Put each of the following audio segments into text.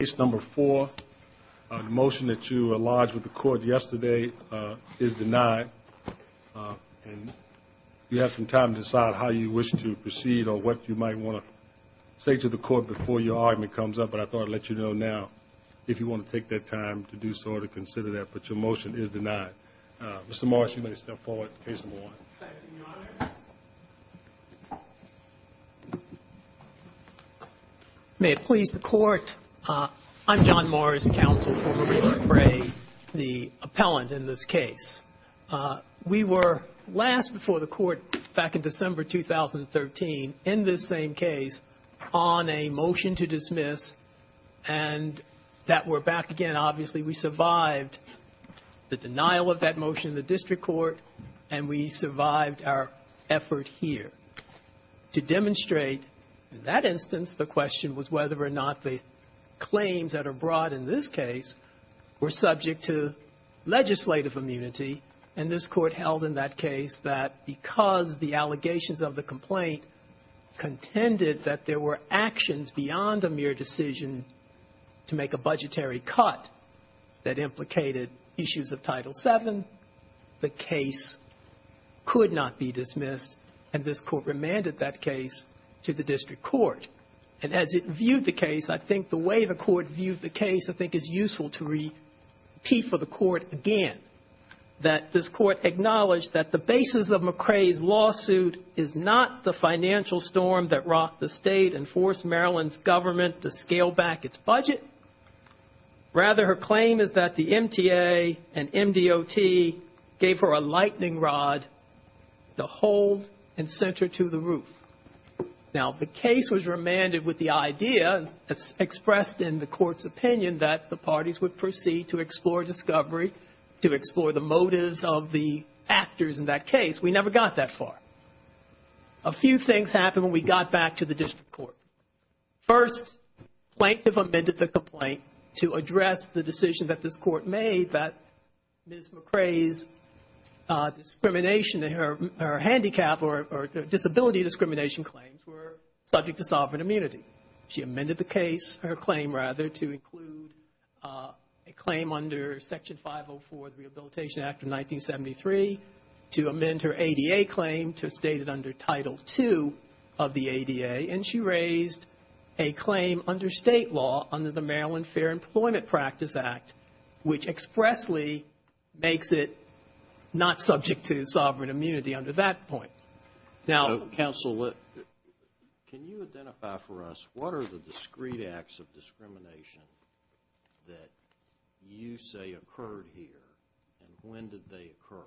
Case number 4. The motion that you enlarged with the court yesterday is denied. You have some time to decide how you wish to proceed or what you might want to say to the court before your argument comes up, but I thought I'd let you know now if you want to take that time to do so or to consider that. But your motion is denied. Mr. Morris, you may step forward to case number 1. Thank you, Your Honor. May it please the court, I'm John Morris, counsel for Marie McCray, the appellant in this case. We were last before the court back in December 2013 in this same case on a motion to dismiss and that we're back again. And obviously we survived the denial of that motion in the district court and we survived our effort here. To demonstrate that instance, the question was whether or not the claims that are brought in this case were subject to legislative immunity. And this Court held in that case that because the allegations of the complaint contended that there were actions beyond a mere decision to make a budgetary cut that implicated issues of Title VII, the case could not be dismissed and this Court remanded that case to the district court. And as it viewed the case, I think the way the Court viewed the case I think is useful to repeat for the Court again, that this Court acknowledged that the basis of McCray's lawsuit is not the financial storm that rocked the State and forced Maryland's government to scale back its budget. Rather, her claim is that the MTA and MDOT gave her a lightning rod to hold and sent her to the roof. Now, the case was remanded with the idea, as expressed in the Court's opinion, that the parties would proceed to explore discovery, to explore the motives of the actors in that case. We never got that far. A few things happened when we got back to the district court. First, Plaintiff amended the complaint to address the decision that this Court made that Ms. McCray's discrimination, her handicap or disability discrimination claims were subject to sovereign immunity. She amended the case, her claim rather, to include a claim under Section 504 of the Rehabilitation Act of 1973, to amend her ADA claim to state it under Title II of the ADA, and she raised a claim under State law under the Maryland Fair Employment Practice Act, which expressly makes it not subject to sovereign immunity under that point. Now, counsel, can you identify for us what are the discrete acts of discrimination that you say occurred here, and when did they occur?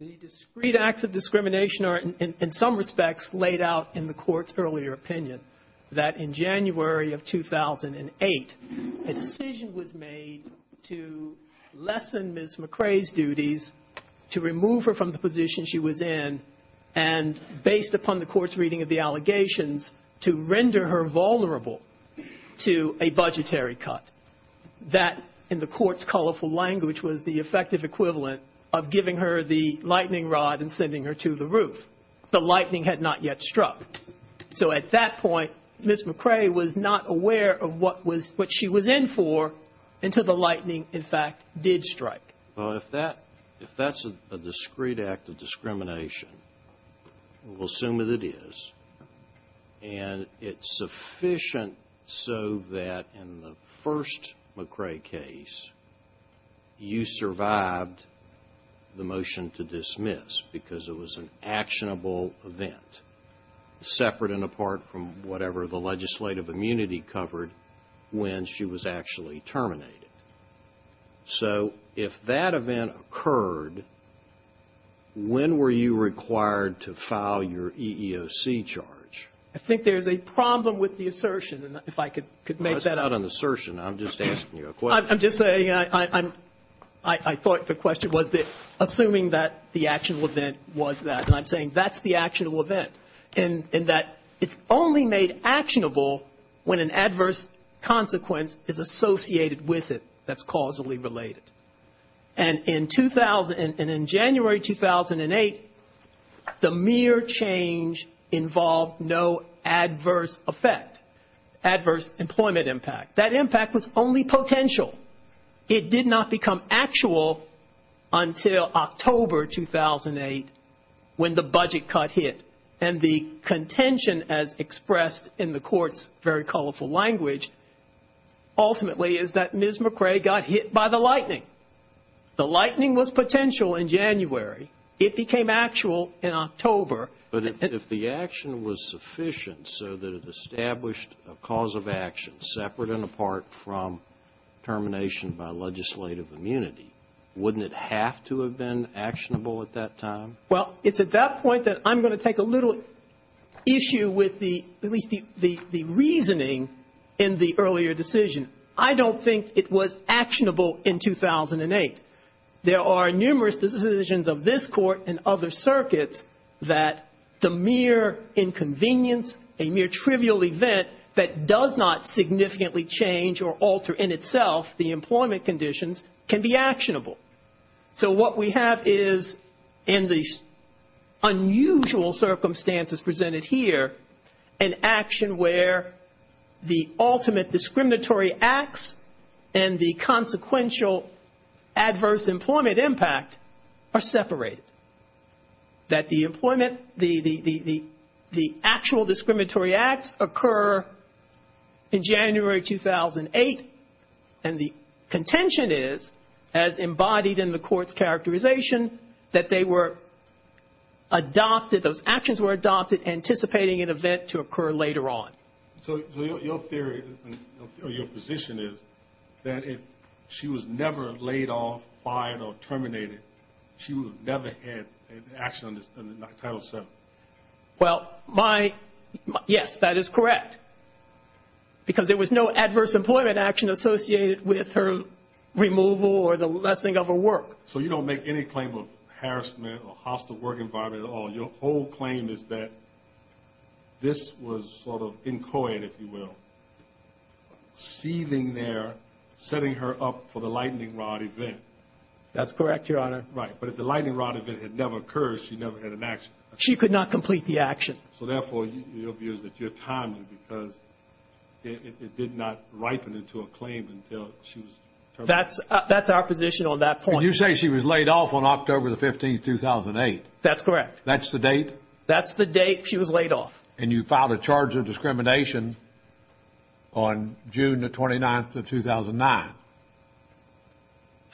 The discrete acts of discrimination are, in some respects, laid out in the Court's earlier opinion, that in January of 2008, a decision was made to lessen Ms. McCray's duties, to remove her from the position she was in, and based upon the Court's reading of the allegations, to render her vulnerable to a budgetary cut. That, in the Court's colorful language, was the effective equivalent of giving her the lightning rod and sending her to the roof. The lightning had not yet struck. So at that point, Ms. McCray was not aware of what she was in for until the lightning, in fact, did strike. Well, if that's a discrete act of discrimination, we'll assume that it is, and it's sufficient so that in the first McCray case, you survived the motion to dismiss because it was an actionable event, separate and apart from whatever the legislative immunity covered when she was actually terminated. So if that event occurred, when were you required to file your EEOC charge? I think there's a problem with the assertion, and if I could make that up. That's not an assertion. I'm just asking you a question. I'm just saying I thought the question was assuming that the actual event was that, and I'm saying that's the actual event, in that it's only made actionable when an adverse consequence is associated with it that's causally related. And in January 2008, the mere change involved no adverse effect, adverse employment impact. That impact was only potential. It did not become actual until October 2008 when the budget cut hit. And the contention as expressed in the Court's very colorful language ultimately is that Ms. McCray got hit by the lightning. The lightning was potential in January. It became actual in October. But if the action was sufficient so that it established a cause of action separate and apart from termination by legislative immunity, wouldn't it have to have been actionable at that time? Well, it's at that point that I'm going to take a little issue with at least the reasoning in the earlier decision. I don't think it was actionable in 2008. There are numerous decisions of this Court and other circuits that the mere inconvenience, a mere trivial event that does not significantly change or alter in itself the employment conditions can be actionable. So what we have is in the unusual circumstances presented here, an action where the ultimate discriminatory acts and the consequential adverse employment impact are separated. That the employment, the actual discriminatory acts occur in January 2008 and the contention is as embodied in the Court's characterization that they were adopted, those actions were adopted anticipating an event to occur later on. So your theory, your position is that if she was never laid off, fired, or terminated, she would have never had an action on Title VII? Well, my, yes, that is correct. Because there was no adverse employment action associated with her removal or the lessening of her work. So you don't make any claim of harassment or hostile work environment at all. Your whole claim is that this was sort of inchoate, if you will, seething there, setting her up for the lightning rod event. That's correct, Your Honor. Right, but if the lightning rod event had never occurred, she never had an action. She could not complete the action. So therefore, your view is that you're timely because it did not ripen into a claim until she was terminated. That's our position on that point. And you say she was laid off on October 15, 2008. That's correct. That's the date? That's the date she was laid off. And you filed a charge of discrimination on June 29, 2009.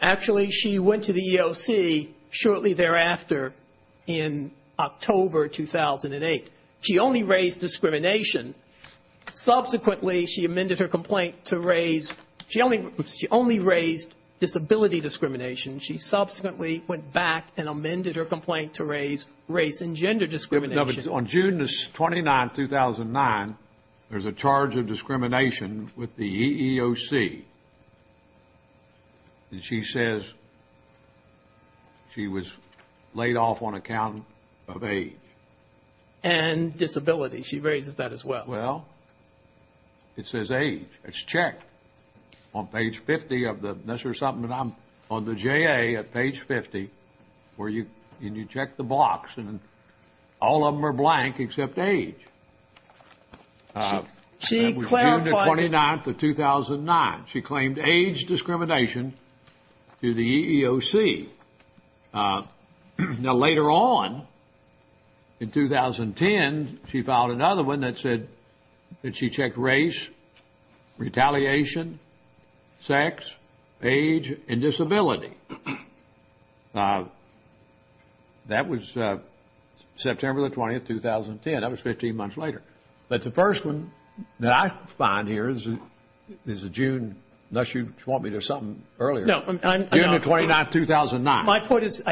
Actually, she went to the EEOC shortly thereafter in October 2008. She only raised discrimination. Subsequently, she amended her complaint to raise, she only raised disability discrimination. She subsequently went back and amended her complaint to raise race and gender discrimination. No, but on June 29, 2009, there's a charge of discrimination with the EEOC. And she says she was laid off on account of age. And disability. She raises that as well. Well, it says age. It's checked. On page 50 of the, this is something that I'm, on the JA at page 50, where you, and you check the box. And all of them are blank except age. She clarified. That was June 29, 2009. She claimed age discrimination to the EEOC. Now, later on, in 2010, she filed another one that said that she checked race, retaliation, sex, age, and disability. That was September 20, 2010. That was 15 months later. But the first one that I find here is a June, unless you want me to something earlier. No. June 29, 2009. My point is,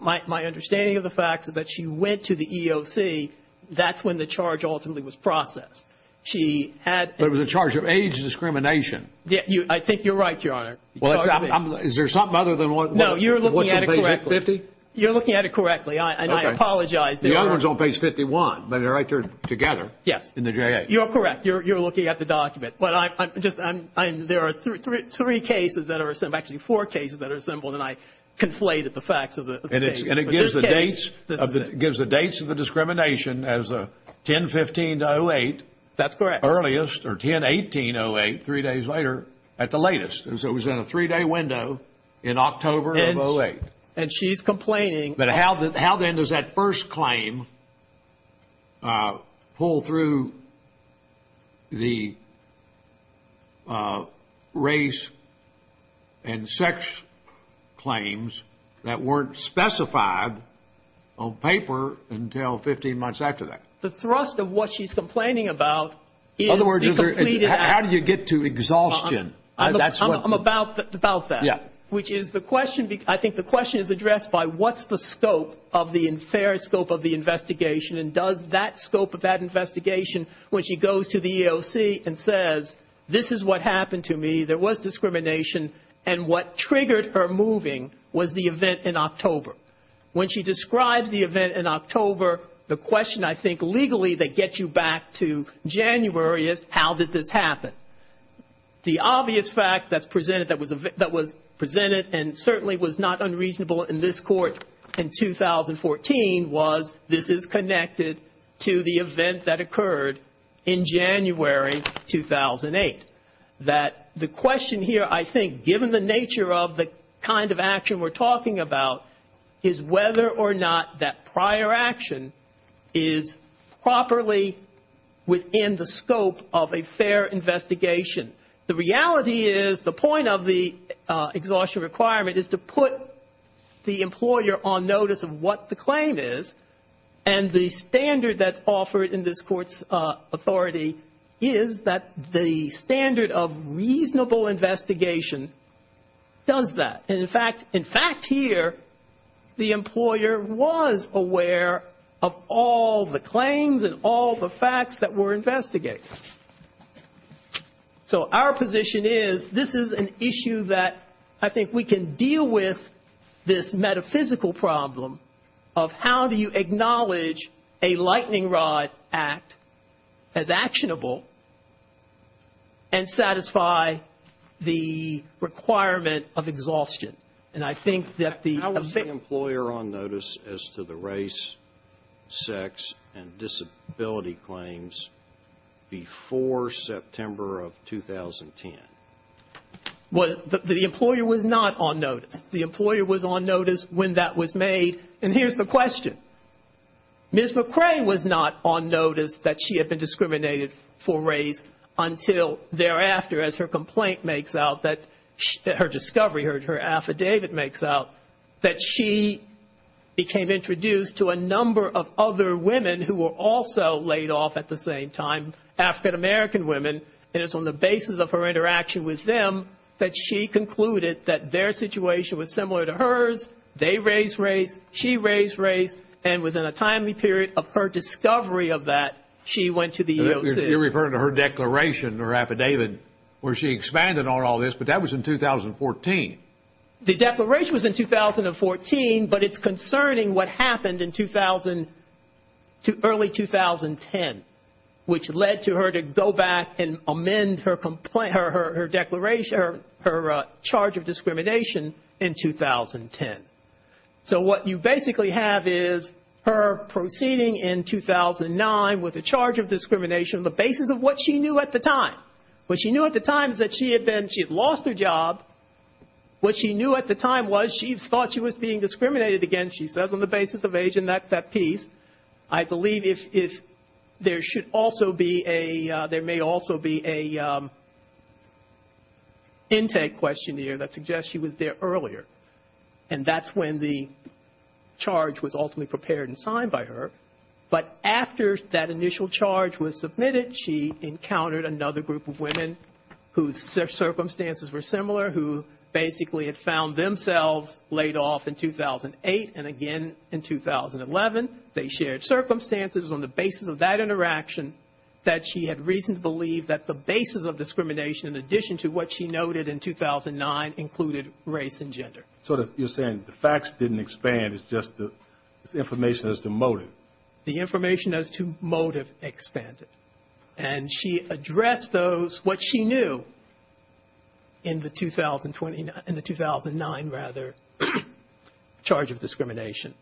my understanding of the facts is that she went to the EEOC. That's when the charge ultimately was processed. She had. There was a charge of age discrimination. I think you're right, Your Honor. Is there something other than what's in page 50? No, you're looking at it correctly. You're looking at it correctly. And I apologize. The other one's on page 51, but they're right there together. Yes. In the JA. You're correct. You're looking at the document. There are three cases that are, actually four cases that are assembled, and I conflated the facts of the case. And it gives the dates of the discrimination as 10-15-08. That's correct. Earliest, or 10-18-08, three days later, at the latest. So it was in a three-day window in October of 08. And she's complaining. But how then does that first claim pull through the race and sex claims that weren't specified on paper until 15 months after that? The thrust of what she's complaining about is the completed act. In other words, how do you get to exhaustion? I'm about that. Yeah. Which is the question. I think the question is addressed by what's the scope of the fair scope of the investigation, and does that scope of that investigation, when she goes to the EEOC and says, this is what happened to me, there was discrimination, and what triggered her moving was the event in October. When she describes the event in October, the question, I think, legally that gets you back to January is, how did this happen? The obvious fact that was presented and certainly was not unreasonable in this court in 2014 was, this is connected to the event that occurred in January 2008. That the question here, I think, given the nature of the kind of action we're talking about, is whether or not that prior action is properly within the scope of a fair investigation. The reality is the point of the exhaustion requirement is to put the employer on notice of what the claim is, and the standard that's offered in this court's authority is that the standard of reasonable investigation does that. In fact, here, the employer was aware of all the claims and all the facts that were investigated. So our position is, this is an issue that I think we can deal with this metaphysical problem of how do you acknowledge a And I think that the How was the employer on notice as to the race, sex, and disability claims before September of 2010? Well, the employer was not on notice. The employer was on notice when that was made, and here's the question. Ms. McRae was not on notice that she had been discriminated for race until thereafter, as her complaint makes out, that her discovery, her affidavit makes out, that she became introduced to a number of other women who were also laid off at the same time, African-American women, and it's on the basis of her interaction with them that she concluded that their situation was similar to hers. They raised race, she raised race, and within a timely period of her discovery of that, she went to the EOC. You're referring to her declaration, her affidavit, where she expanded on all this, but that was in 2014. The declaration was in 2014, but it's concerning what happened in early 2010, which led to her to go back and amend her charge of discrimination in 2010. So what you basically have is her proceeding in 2009 with a charge of discrimination on the basis of what she knew at the time. What she knew at the time is that she had been, she had lost her job. What she knew at the time was she thought she was being discriminated against, she says, on the basis of age and that piece. I believe if there should also be a, there may also be an intake questionnaire that suggests she was there earlier, and that's when the charge was ultimately prepared and signed by her. But after that initial charge was submitted, she encountered another group of women whose circumstances were similar, who basically had found themselves laid off in 2008, and again in 2011. They shared circumstances on the basis of that interaction that she had reason to believe that the basis of discrimination, in addition to what she noted in 2009, included race and gender. So you're saying the facts didn't expand. It's just the information as to motive. The information as to motive expanded. And she addressed those, what she knew in the 2009, rather, charge of discrimination.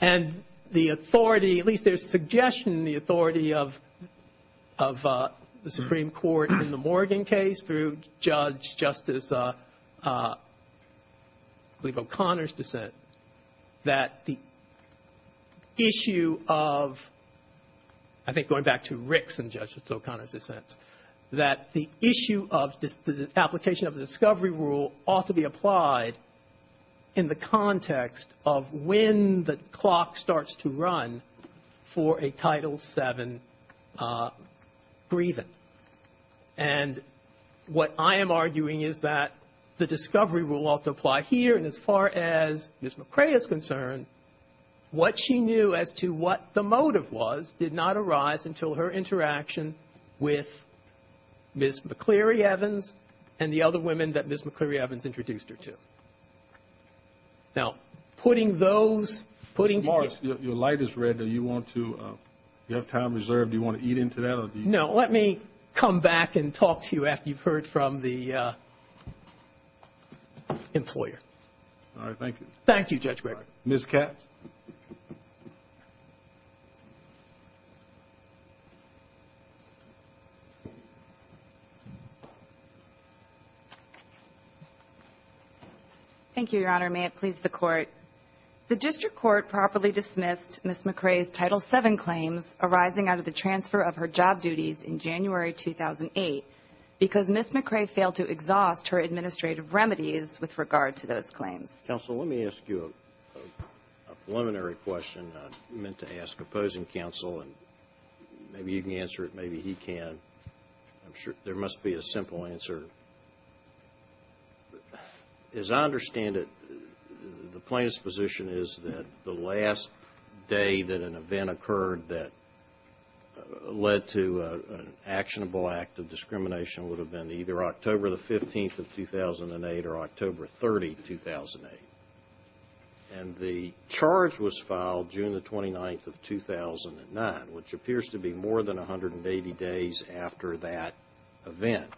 And the authority, at least there's suggestion in the authority of the Supreme Court in the Morgan case, through Judge Justice, I believe, O'Connor's dissent, that the issue of, I think going back to Ricks and Judge O'Connor's dissents, that the issue of the application of the discovery rule ought to be applied in the context of when the clock starts to run for a Title VII grievance. And what I am arguing is that the discovery rule ought to apply here. And as far as Ms. McCrae is concerned, what she knew as to what the motive was did not arise until her interaction with Ms. McCleary Evans and the other women that Ms. McCleary Evans introduced her to. Now, putting those... Mr. Morris, your light is red. Do you want to... You have time reserved. Do you want to eat into that? No. Let me come back and talk to you after you've heard from the employer. All right. Thank you. Thank you, Judge Gregg. All right. Ms. Katz? Thank you, Your Honor. May it please the Court. The district court properly dismissed Ms. McCrae's Title VII claims arising out of the transfer of her job duties in January 2008 because Ms. McCrae failed to exhaust her administrative remedies with regard to those claims. Counsel, let me ask you a preliminary question I meant to ask opposing counsel, and maybe you can answer it, maybe he can. I'm sure there must be a simple answer. As I understand it, the plaintiff's position is that the last day that an event occurred that led to an actionable act of discrimination would have been either October the 15th of 2008 or October 30, 2008. And the charge was filed June the 29th of 2009, which appears to be more than 180 days after that event.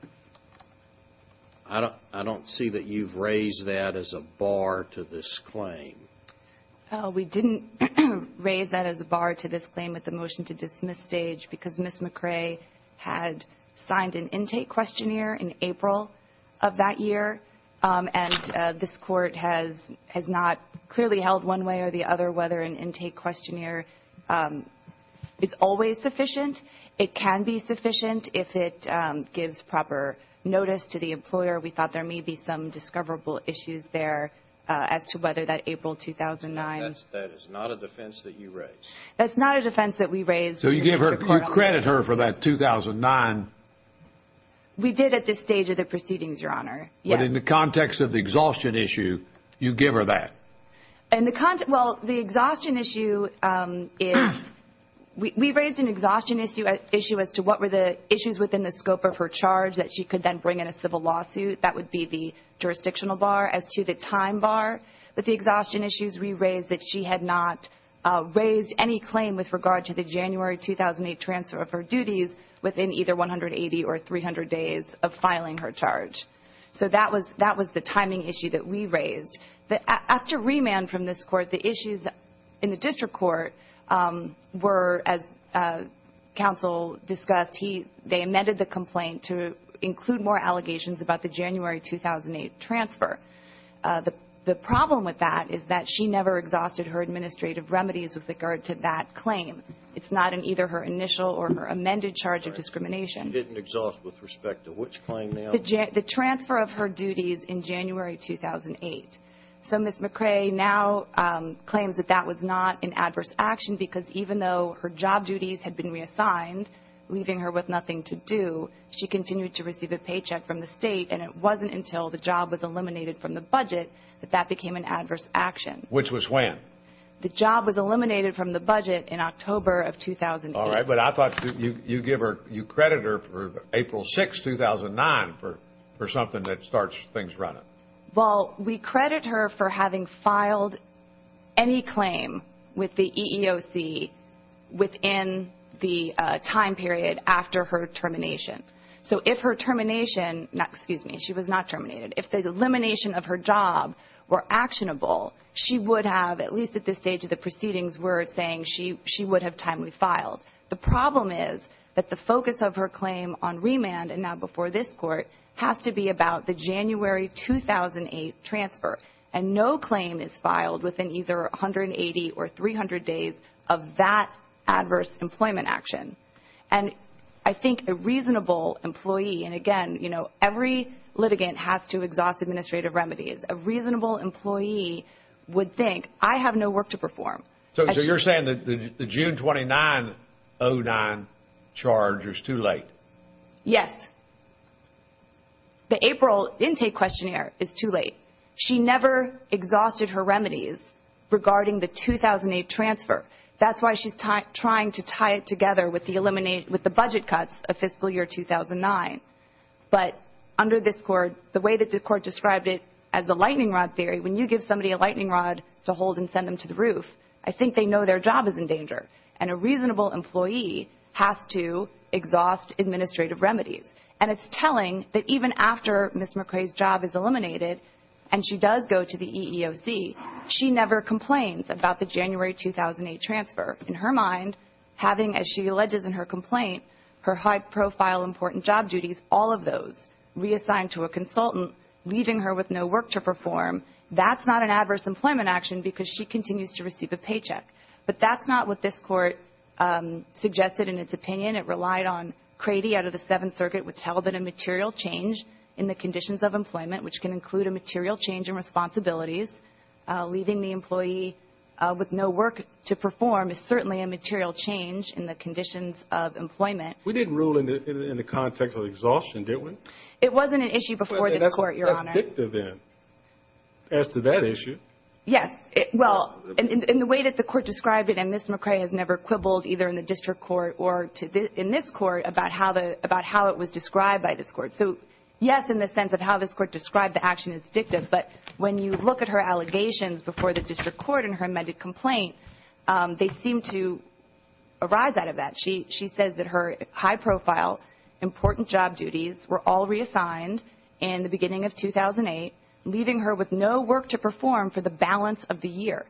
I don't see that you've raised that as a bar to this claim. We didn't raise that as a bar to this claim with the motion to dismiss stage because Ms. McCrae had signed an intake questionnaire in April of that year, and this Court has not clearly held one way or the other whether an intake questionnaire is always sufficient. It can be sufficient if it gives proper notice to the employer. We thought there may be some discoverable issues there as to whether that April 2009. That is not a defense that you raised. That's not a defense that we raised. So you give her or credit her for that 2009. We did at this stage of the proceedings, Your Honor. But in the context of the exhaustion issue, you give her that. Well, the exhaustion issue is, we raised an exhaustion issue as to what were the issues within the scope of her charge that she could then bring in a civil lawsuit. That would be the jurisdictional bar. As to the time bar with the exhaustion issues, we raised that she had not raised any claim with regard to the January 2008 transfer of her duties within either 180 or 300 days of filing her charge. So that was the timing issue that we raised. After remand from this Court, the issues in the district court were, as counsel discussed, they amended the complaint to include more allegations about the January 2008 transfer. The problem with that is that she never exhausted her administrative remedies with regard to that claim. It's not in either her initial or her amended charge of discrimination. She didn't exhaust with respect to which claim now? The transfer of her duties in January 2008. So Ms. McRae now claims that that was not an adverse action because even though her job duties had been reassigned, leaving her with nothing to do, she continued to receive a paycheck from the state, and it wasn't until the job was eliminated from the budget that that became an adverse action. Which was when? The job was eliminated from the budget in October of 2008. All right, but I thought you give her, you credit her for April 6, 2009 for something that starts things running. Well, we credit her for having filed any claim with the EEOC within the time period after her termination. So if her termination, excuse me, she was not terminated, if the elimination of her job were actionable, she would have, at least at this stage of the proceedings, were saying she would have timely filed. The problem is that the focus of her claim on remand and now before this court has to be about the January 2008 transfer, and no claim is filed within either 180 or 300 days of that adverse employment action. And I think a reasonable employee, and again, you know, every litigant has to exhaust administrative remedies. A reasonable employee would think, I have no work to perform. So you're saying that the June 2009 charge is too late? Yes. The April intake questionnaire is too late. She never exhausted her remedies regarding the 2008 transfer. That's why she's trying to tie it together with the budget cuts of fiscal year 2009. But under this court, the way that the court described it as a lightning rod theory, when you give somebody a lightning rod to hold and send them to the roof, I think they know their job is in danger. And a reasonable employee has to exhaust administrative remedies. And it's telling that even after Ms. McRae's job is eliminated and she does go to the EEOC, she never complains about the January 2008 transfer. In her mind, having, as she alleges in her complaint, her high-profile important job duties, all of those reassigned to a consultant, leaving her with no work to perform, that's not an adverse employment action because she continues to receive a paycheck. But that's not what this court suggested in its opinion. It relied on Crady out of the Seventh Circuit, which held that a material change in the conditions of employment, which can include a material change in responsibilities, leaving the employee with no work to perform, is certainly a material change in the conditions of employment. We didn't rule in the context of exhaustion, did we? It wasn't an issue before this court, Your Honor. That's dictative, then, as to that issue. Yes. Well, in the way that the court described it, and Ms. McRae has never quibbled either in the district court or in this court about how it was described by this court. But when you look at her allegations before the district court in her amended complaint, they seem to arise out of that. She says that her high-profile important job duties were all reassigned in the beginning of 2008, leaving her with no work to perform for the balance of the year,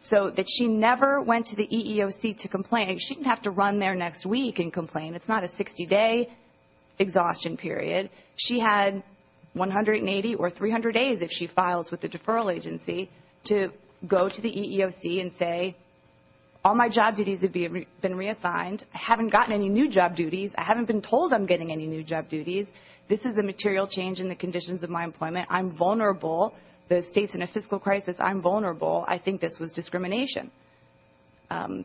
so that she never went to the EEOC to complain. She didn't have to run there next week and complain. It's not a 60-day exhaustion period. She had 180 or 300 days, if she files with the deferral agency, to go to the EEOC and say, all my job duties have been reassigned. I haven't gotten any new job duties. I haven't been told I'm getting any new job duties. This is a material change in the conditions of my employment. I'm vulnerable. The state's in a fiscal crisis. I'm vulnerable. I think this was discrimination.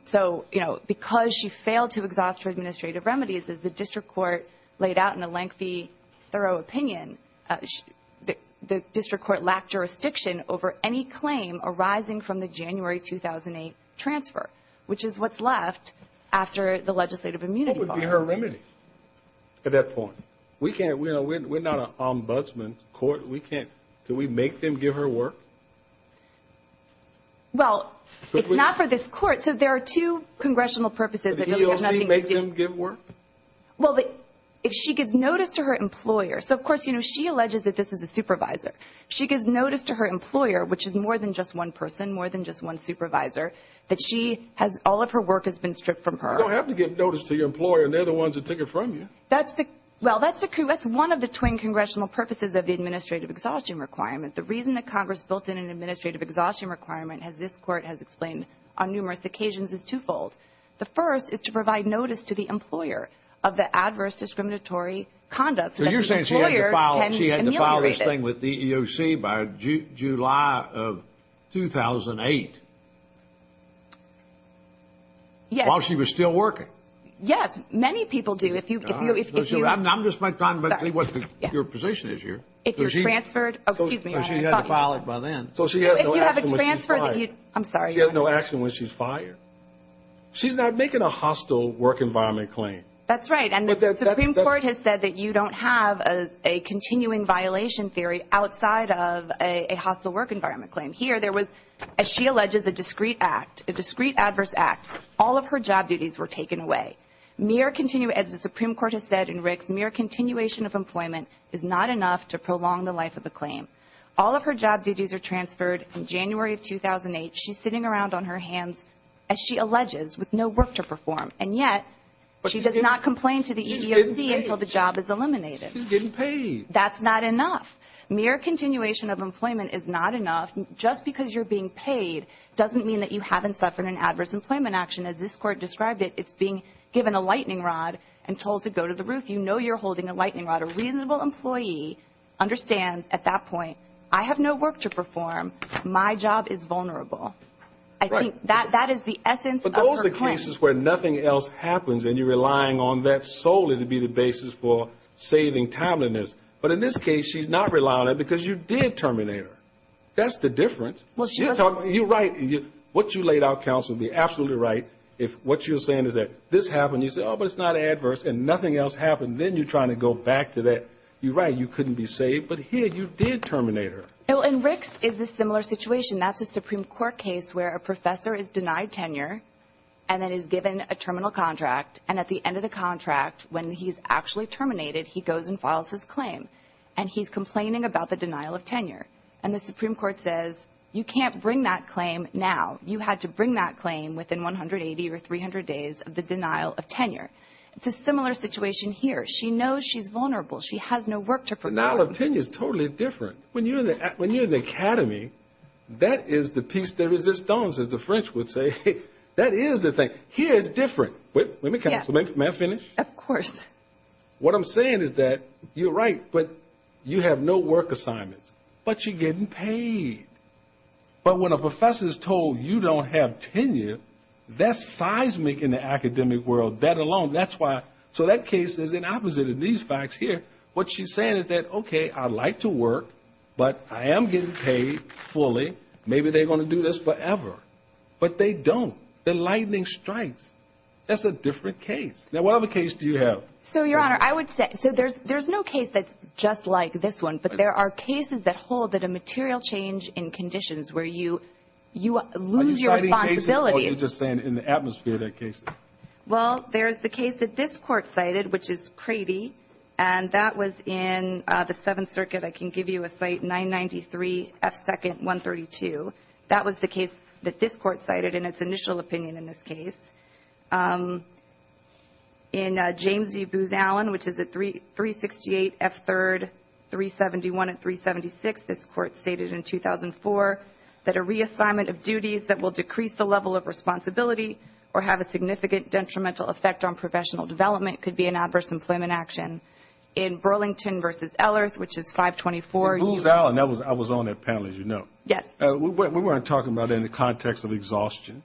So, you know, because she failed to exhaust her administrative remedies, as the district court laid out in a lengthy, thorough opinion, the district court lacked jurisdiction over any claim arising from the January 2008 transfer, which is what's left after the legislative immunity bar. What would be her remedy at that point? We're not an ombudsman court. Can we make them give her work? Well, it's not for this court. So there are two congressional purposes. Would the EEOC make them give work? Well, if she gives notice to her employer. So, of course, you know, she alleges that this is a supervisor. She gives notice to her employer, which is more than just one person, more than just one supervisor, that all of her work has been stripped from her. You don't have to give notice to your employer. They're the ones that take it from you. Well, that's one of the twin congressional purposes of the administrative exhaustion requirement. The reason that Congress built in an administrative exhaustion requirement, as this court has explained on numerous occasions, is twofold. The first is to provide notice to the employer of the adverse discriminatory conduct. So you're saying she had to file this thing with the EEOC by July of 2008 while she was still working? Yes. Many people do. I'm just trying to understand what your position is here. If you're transferred, excuse me. She had to file it by then. If you have a transfer, I'm sorry. She has no action when she's fired. She's not making a hostile work environment claim. That's right. And the Supreme Court has said that you don't have a continuing violation theory outside of a hostile work environment claim. Here there was, as she alleges, a discreet act, a discreet adverse act. All of her job duties were taken away. As the Supreme Court has said in Ricks, mere continuation of employment is not enough to prolong the life of the claim. All of her job duties are transferred in January of 2008. She's sitting around on her hands, as she alleges, with no work to perform, and yet she does not complain to the EEOC until the job is eliminated. She's getting paid. That's not enough. Mere continuation of employment is not enough. Just because you're being paid doesn't mean that you haven't suffered an adverse employment action. As this court described it, it's being given a lightning rod and told to go to the roof. If you know you're holding a lightning rod, a reasonable employee understands at that point, I have no work to perform, my job is vulnerable. I think that is the essence of her claim. But those are cases where nothing else happens and you're relying on that solely to be the basis for saving timeliness. But in this case, she's not relying on it because you did terminate her. That's the difference. You're right. What you laid out, counsel, would be absolutely right if what you're saying is that this happened, you said, oh, but it's not adverse, and nothing else happened. Then you're trying to go back to that. You're right, you couldn't be saved, but here you did terminate her. Well, and Rick's is a similar situation. That's a Supreme Court case where a professor is denied tenure and then is given a terminal contract, and at the end of the contract, when he's actually terminated, he goes and files his claim, and he's complaining about the denial of tenure. And the Supreme Court says, you can't bring that claim now. You had to bring that claim within 180 or 300 days of the denial of tenure. It's a similar situation here. She knows she's vulnerable. She has no work to perform. Denial of tenure is totally different. When you're in the academy, that is the piece de resistance, as the French would say. That is the thing. Here it's different. Let me finish. Of course. What I'm saying is that you're right, but you have no work assignments, but you're getting paid. But when a professor is told you don't have tenure, that's seismic in the academic world. That alone, that's why. So that case is in opposite of these facts here. What she's saying is that, okay, I'd like to work, but I am getting paid fully. Maybe they're going to do this forever. But they don't. The lightning strikes. That's a different case. Now, what other case do you have? So, Your Honor, I would say, so there's no case that's just like this one, but there are cases that hold that a material change in conditions where you lose your responsibility. Are you citing cases, or are you just saying in the atmosphere that case is? Well, there's the case that this Court cited, which is Crady, and that was in the Seventh Circuit. I can give you a cite, 993 F. 2nd, 132. That was the case that this Court cited in its initial opinion in this case. In James v. Booz Allen, which is at 368 F. 3rd, 371 and 376, this Court stated in 2004, that a reassignment of duties that will decrease the level of responsibility or have a significant detrimental effect on professional development could be an adverse employment action. In Burlington v. Ellerth, which is 524. Booz Allen, I was on that panel, as you know. Yes. We weren't talking about it in the context of exhaustion.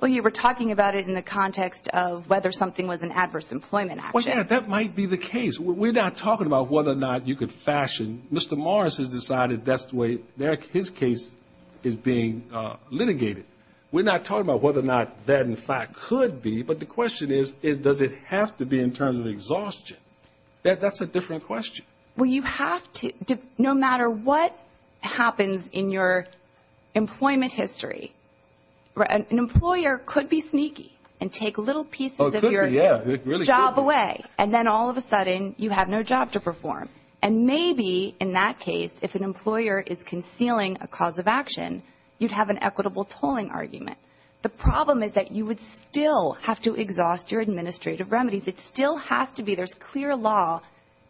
Well, you were talking about it in the context of whether something was an adverse employment action. Well, yeah, that might be the case. We're not talking about whether or not you could fashion. Mr. Morris has decided that's the way his case is being litigated. We're not talking about whether or not that, in fact, could be, but the question is, does it have to be in terms of exhaustion? That's a different question. Well, you have to, no matter what happens in your employment history, an employer could be sneaky and take little pieces of your job away, and then all of a sudden you have no job to perform. And maybe, in that case, if an employer is concealing a cause of action, you'd have an equitable tolling argument. The problem is that you would still have to exhaust your administrative remedies. It still has to be, there's clear law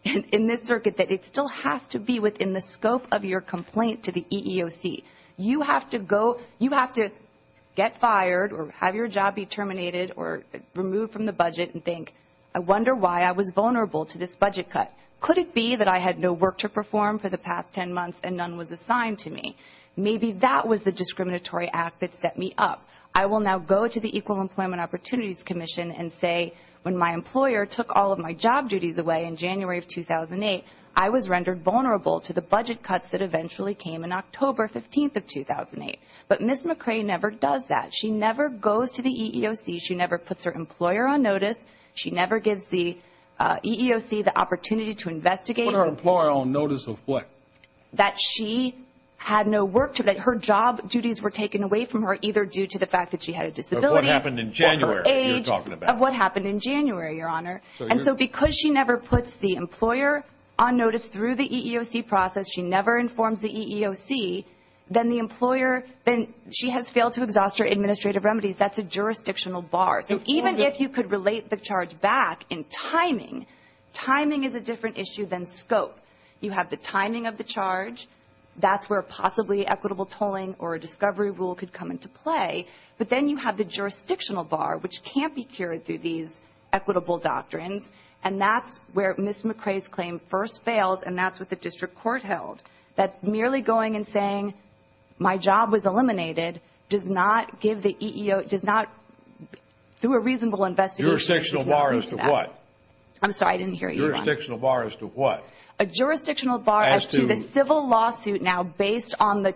in this circuit, that it still has to be within the scope of your complaint to the EEOC. You have to go, you have to get fired or have your job be terminated or removed from the budget and think, I wonder why I was vulnerable to this budget cut. Could it be that I had no work to perform for the past 10 months and none was assigned to me? Maybe that was the discriminatory act that set me up. I will now go to the Equal Employment Opportunities Commission and say, when my employer took all of my job duties away in January of 2008, I was rendered vulnerable to the budget cuts that eventually came in October 15th of 2008. But Ms. McRae never does that. She never goes to the EEOC. She never puts her employer on notice. She never gives the EEOC the opportunity to investigate. Put her employer on notice of what? That she had no work, that her job duties were taken away from her, either due to the fact that she had a disability or her age. Of what happened in January that you're talking about. Of what happened in January, Your Honor. And so because she never puts the employer on notice through the EEOC process, she never informs the EEOC, then the employer, then she has failed to exhaust her administrative remedies. That's a jurisdictional bar. So even if you could relate the charge back in timing, timing is a different issue than scope. You have the timing of the charge. That's where possibly equitable tolling or a discovery rule could come into play. But then you have the jurisdictional bar, which can't be cured through these equitable doctrines. And that's where Ms. McRae's claim first fails, and that's what the district court held. That merely going and saying, my job was eliminated, does not give the EEOC, does not, through a reasonable investigation. Jurisdictional bar as to what? I'm sorry, I didn't hear you. Jurisdictional bar as to what? A jurisdictional bar as to the civil lawsuit now based on the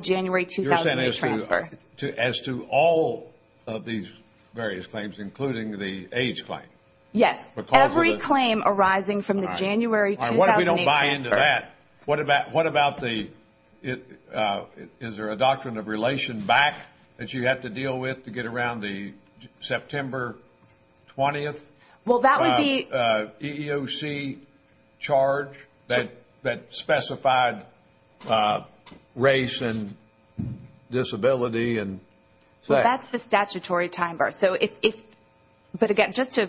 January 2008 transfer. As to all of these various claims, including the age claim? Yes, every claim arising from the January 2008 transfer. All right, what if we don't buy into that? What about the, is there a doctrine of relation back that you have to deal with to get around the September 20th? The EEOC charge that specified race and disability. Well, that's the statutory time bar. But again, just to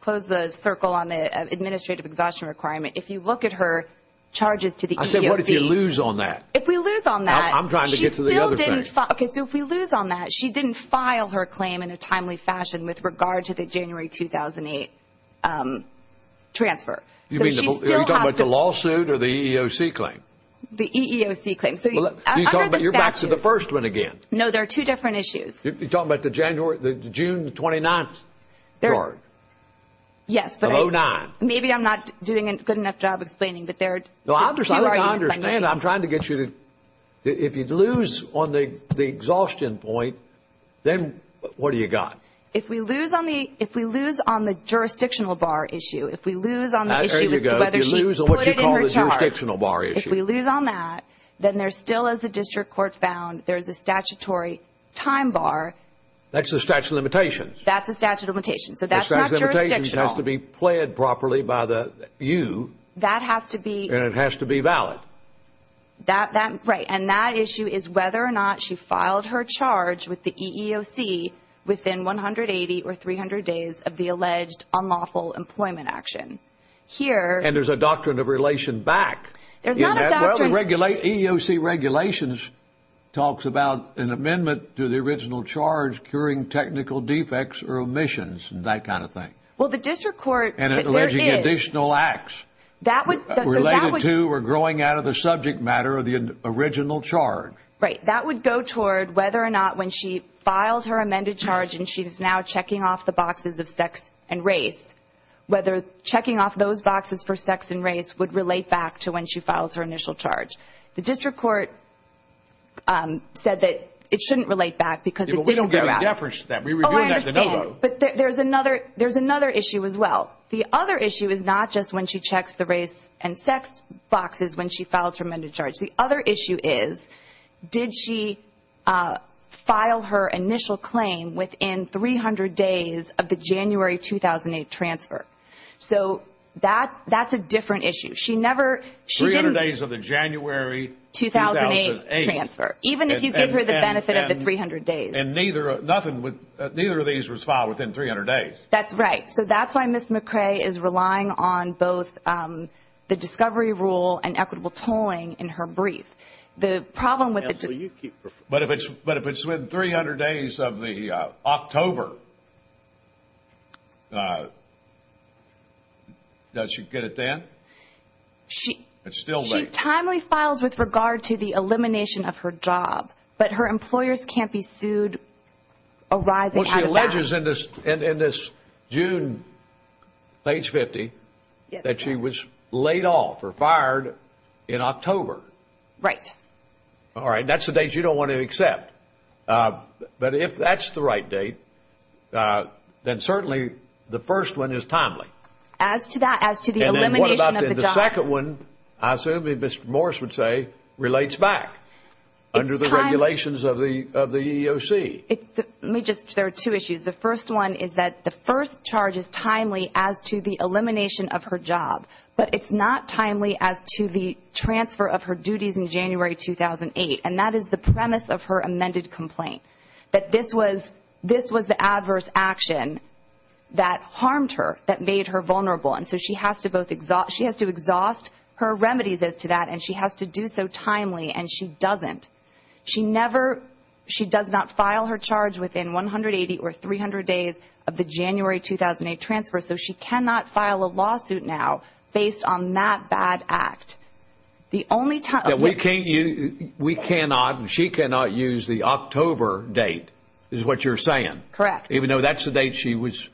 close the circle on the administrative exhaustion requirement, if you look at her charges to the EEOC. I said, what if you lose on that? If we lose on that. I'm trying to get to the other thing. Okay, so if we lose on that, she didn't file her claim in a timely fashion with regard to the January 2008 transfer. Are you talking about the lawsuit or the EEOC claim? The EEOC claim. You're back to the first one again. No, there are two different issues. You're talking about the June 29th charge? Yes, but maybe I'm not doing a good enough job explaining. No, I understand. I'm trying to get you to, if you lose on the exhaustion point, then what do you got? If we lose on the jurisdictional bar issue, if we lose on the issue as to whether she put it in her charge, if we lose on that, then there's still, as the district court found, there's a statutory time bar. That's the statute of limitations. That's the statute of limitations. So that's not jurisdictional. The statute of limitations has to be pled properly by you. That has to be. And it has to be valid. Right. And that issue is whether or not she filed her charge with the EEOC within 180 or 300 days of the alleged unlawful employment action. And there's a doctrine of relation back. Well, the EEOC regulations talks about an amendment to the original charge curing technical defects or omissions and that kind of thing. Well, the district court. And alleging additional acts. That would. Related to or growing out of the subject matter of the original charge. Right. That would go toward whether or not when she filed her amended charge and she is now checking off the boxes of sex and race, whether checking off those boxes for sex and race would relate back to when she files her initial charge. The district court said that it shouldn't relate back because it didn't. We don't give a deference to that. But there's another there's another issue as well. The other issue is not just when she checks the race and sex boxes when she files her amended charge. The other issue is, did she file her initial claim within 300 days of the January 2008 transfer? So that that's a different issue. She never. She didn't. Days of the January 2008 transfer. Even if you give her the benefit of the 300 days. And neither nothing would. Neither of these was filed within 300 days. That's right. So that's why Ms. McCray is relying on both the discovery rule and equitable tolling in her brief. The problem with it. But if it's but if it's within 300 days of the October. Does she get it then? She. It's still a timely files with regard to the elimination of her job. But her employers can't be sued. All right. Well, she alleges in this in this June page 50 that she was laid off or fired in October. Right. All right. That's the date you don't want to accept. But if that's the right date, then certainly the first one is timely. As to that, as to the elimination of the second one. I assume Mr. Morris would say relates back under the regulations of the of the EEOC. Let me just there are two issues. The first one is that the first charge is timely as to the elimination of her job. But it's not timely as to the transfer of her duties in January 2008. And that is the premise of her amended complaint. But this was this was the adverse action that harmed her, that made her vulnerable. And so she has to both exhaust she has to exhaust her remedies as to that. And she has to do so timely and she doesn't. She never she does not file her charge within 180 or 300 days of the January 2008 transfer. So she cannot file a lawsuit now based on that bad act. The only time that we can't you we cannot and she cannot use the October date is what you're saying. Correct. Even though that's the date she was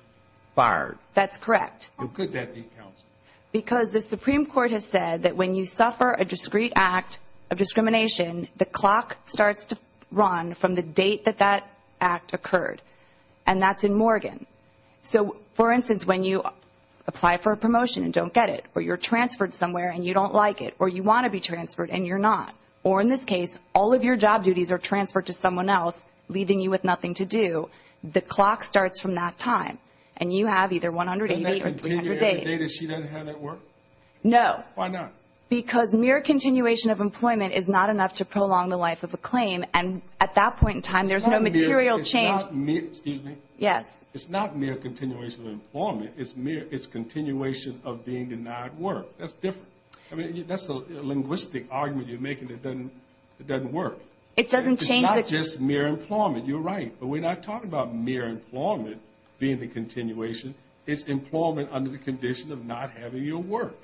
fired. That's correct. Because the Supreme Court has said that when you suffer a discreet act of discrimination, the clock starts to run from the date that that act occurred. And that's in Morgan. So, for instance, when you apply for a promotion and don't get it or you're transferred somewhere and you don't like it or you want to be transferred and you're not. Or in this case, all of your job duties are transferred to someone else, leaving you with nothing to do. The clock starts from that time. And you have either 180 or 300 days. Doesn't that continue every day that she doesn't have that work? No. Why not? Because mere continuation of employment is not enough to prolong the life of a claim. And at that point in time, there's no material change. It's not mere. Excuse me. Yes. It's not mere continuation of employment. It's mere. It's continuation of being denied work. That's different. I mean, that's a linguistic argument you're making. It doesn't work. It doesn't change. It's not just mere employment. You're right. But we're not talking about mere employment being the continuation. It's employment under the condition of not having your work.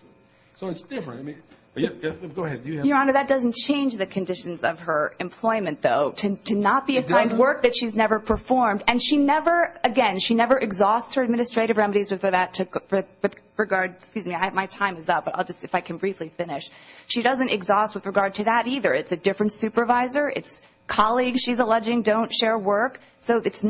So it's different. Go ahead. Your Honor, that doesn't change the conditions of her employment, though, to not be assigned work that she's never performed. And she never, again, she never exhausts her administrative remedies with regard to that. Excuse me. My time is up, but I'll just, if I can briefly finish. She doesn't exhaust with regard to that either. It's a different supervisor. It's colleagues she's alleging don't share work. So if it's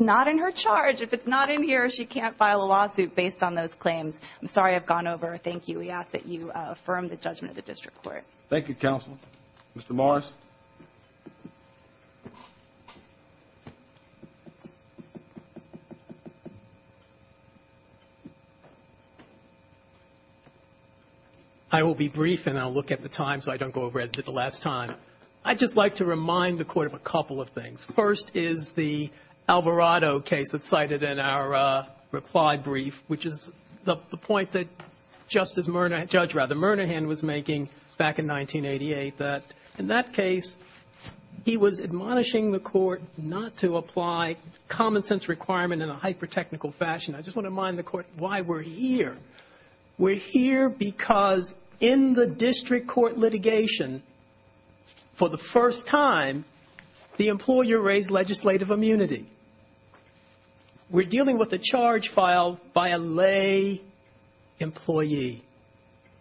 not in her charge, if it's not in here, she can't file a lawsuit based on those claims. I'm sorry I've gone over. Thank you. We ask that you affirm the judgment of the district court. Thank you, counsel. Mr. Morris. I will be brief, and I'll look at the time so I don't go over it at the last time. I'd just like to remind the Court of a couple of things. First is the Alvarado case that's cited in our reply brief, which is the point that Justice Murnahan, Judge Rather, requirement in a hyper-technical fashion. I just want to remind the Court why we're here. We're here because in the district court litigation, for the first time, the employer raised legislative immunity. We're dealing with a charge filed by a lay employee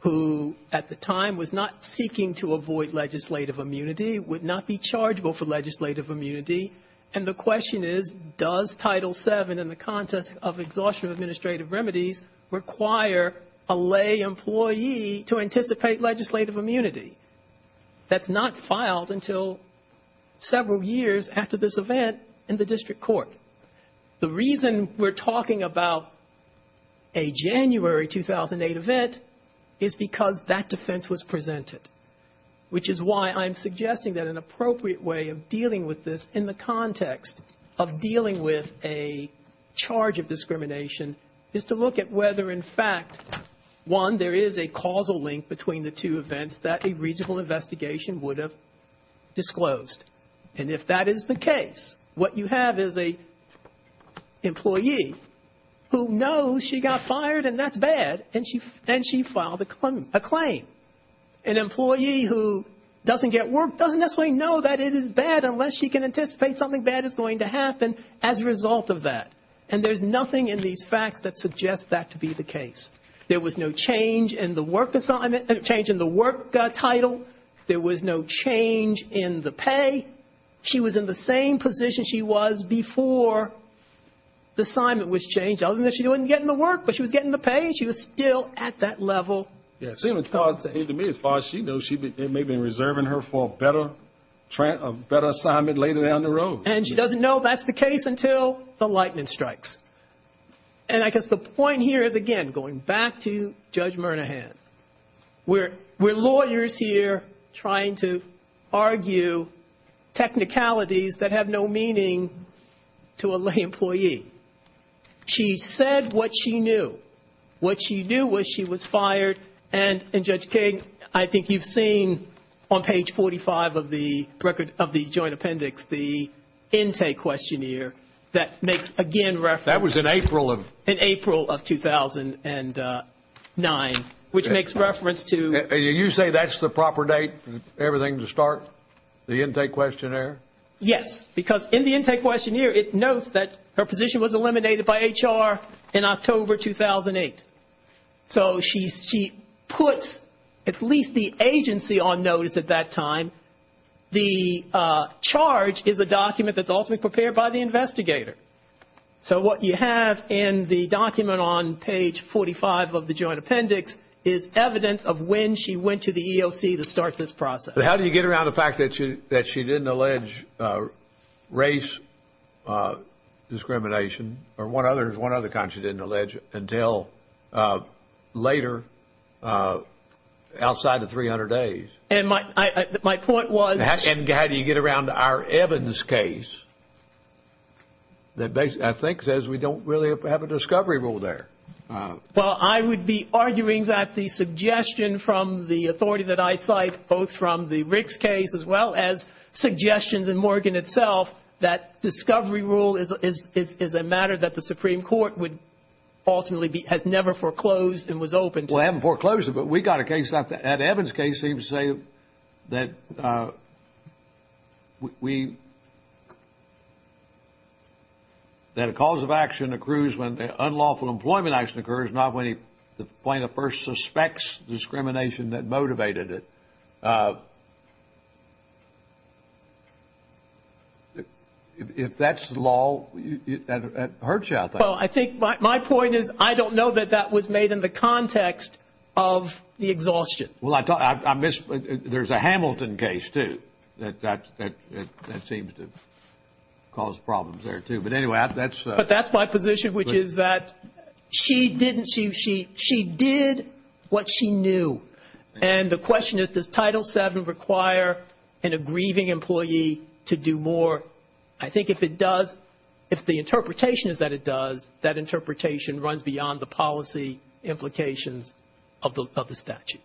who, at the time, was not seeking to avoid legislative immunity, would not be chargeable for legislative immunity. And the question is, does Title VII in the context of exhaustion of administrative remedies, require a lay employee to anticipate legislative immunity? That's not filed until several years after this event in the district court. The reason we're talking about a January 2008 event is because that defense was presented, which is why I'm suggesting that an appropriate way of dealing with this in the context of dealing with a charge of discrimination is to look at whether, in fact, one, there is a causal link between the two events that a reasonable investigation would have disclosed. And if that is the case, what you have is an employee who knows she got fired, and that's bad, and she filed a claim. An employee who doesn't get work doesn't necessarily know that it is bad unless she can anticipate something bad is going to happen as a result of that. And there's nothing in these facts that suggests that to be the case. There was no change in the work title. There was no change in the pay. She was in the same position she was before the assignment was changed, other than she wouldn't get in the work. But she was getting the pay, and she was still at that level. Yes. To me, as far as she knows, they may have been reserving her for a better assignment later down the road. And she doesn't know that's the case until the lightning strikes. And I guess the point here is, again, going back to Judge Murnahan. We're lawyers here trying to argue technicalities that have no meaning to a lay employee. She said what she knew. What she knew was she was fired. And, Judge King, I think you've seen on page 45 of the joint appendix the intake questionnaire that makes, again, reference. That was in April. In April of 2009, which makes reference to... You say that's the proper date for everything to start, the intake questionnaire? Yes, because in the intake questionnaire, it notes that her position was eliminated by HR in October 2008. So she puts at least the agency on notice at that time. The charge is a document that's ultimately prepared by the investigator. So what you have in the document on page 45 of the joint appendix is evidence of when she went to the EOC to start this process. How do you get around the fact that she didn't allege race discrimination or one other kind she didn't allege until later, outside of 300 days? And my point was... And how do you get around our evidence case that I think says we don't really have a discovery rule there? Well, I would be arguing that the suggestion from the authority that I cite, both from the Ricks case as well as suggestions in Morgan itself, that discovery rule is a matter that the Supreme Court would ultimately be... has never foreclosed and was open to. Well, it hasn't foreclosed it, but we got a case. In fact, Ed Evans' case seems to say that we... that a cause of action accrues when unlawful employment action occurs, not when the plaintiff first suspects discrimination that motivated it. If that's the law, it hurts you, I think. Well, I think my point is I don't know that that was made in the context of the exhaustion. Well, I miss... there's a Hamilton case, too, that seems to cause problems there, too. But anyway, that's... But that's my position, which is that she didn't... she did what she knew. And the question is, does Title VII require an aggrieving employee to do more? I think if it does, if the interpretation is that it does, that interpretation runs beyond the policy implications of the statute.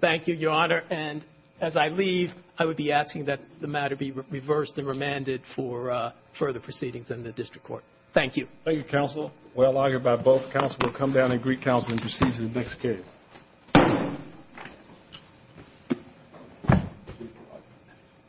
Thank you, Your Honor. And as I leave, I would be asking that the matter be reversed and remanded for further proceedings in the district court. Thank you. Thank you, counsel. We're allowed here by both counsel. We'll come down and greet counsel and proceed to the next case. Thank you.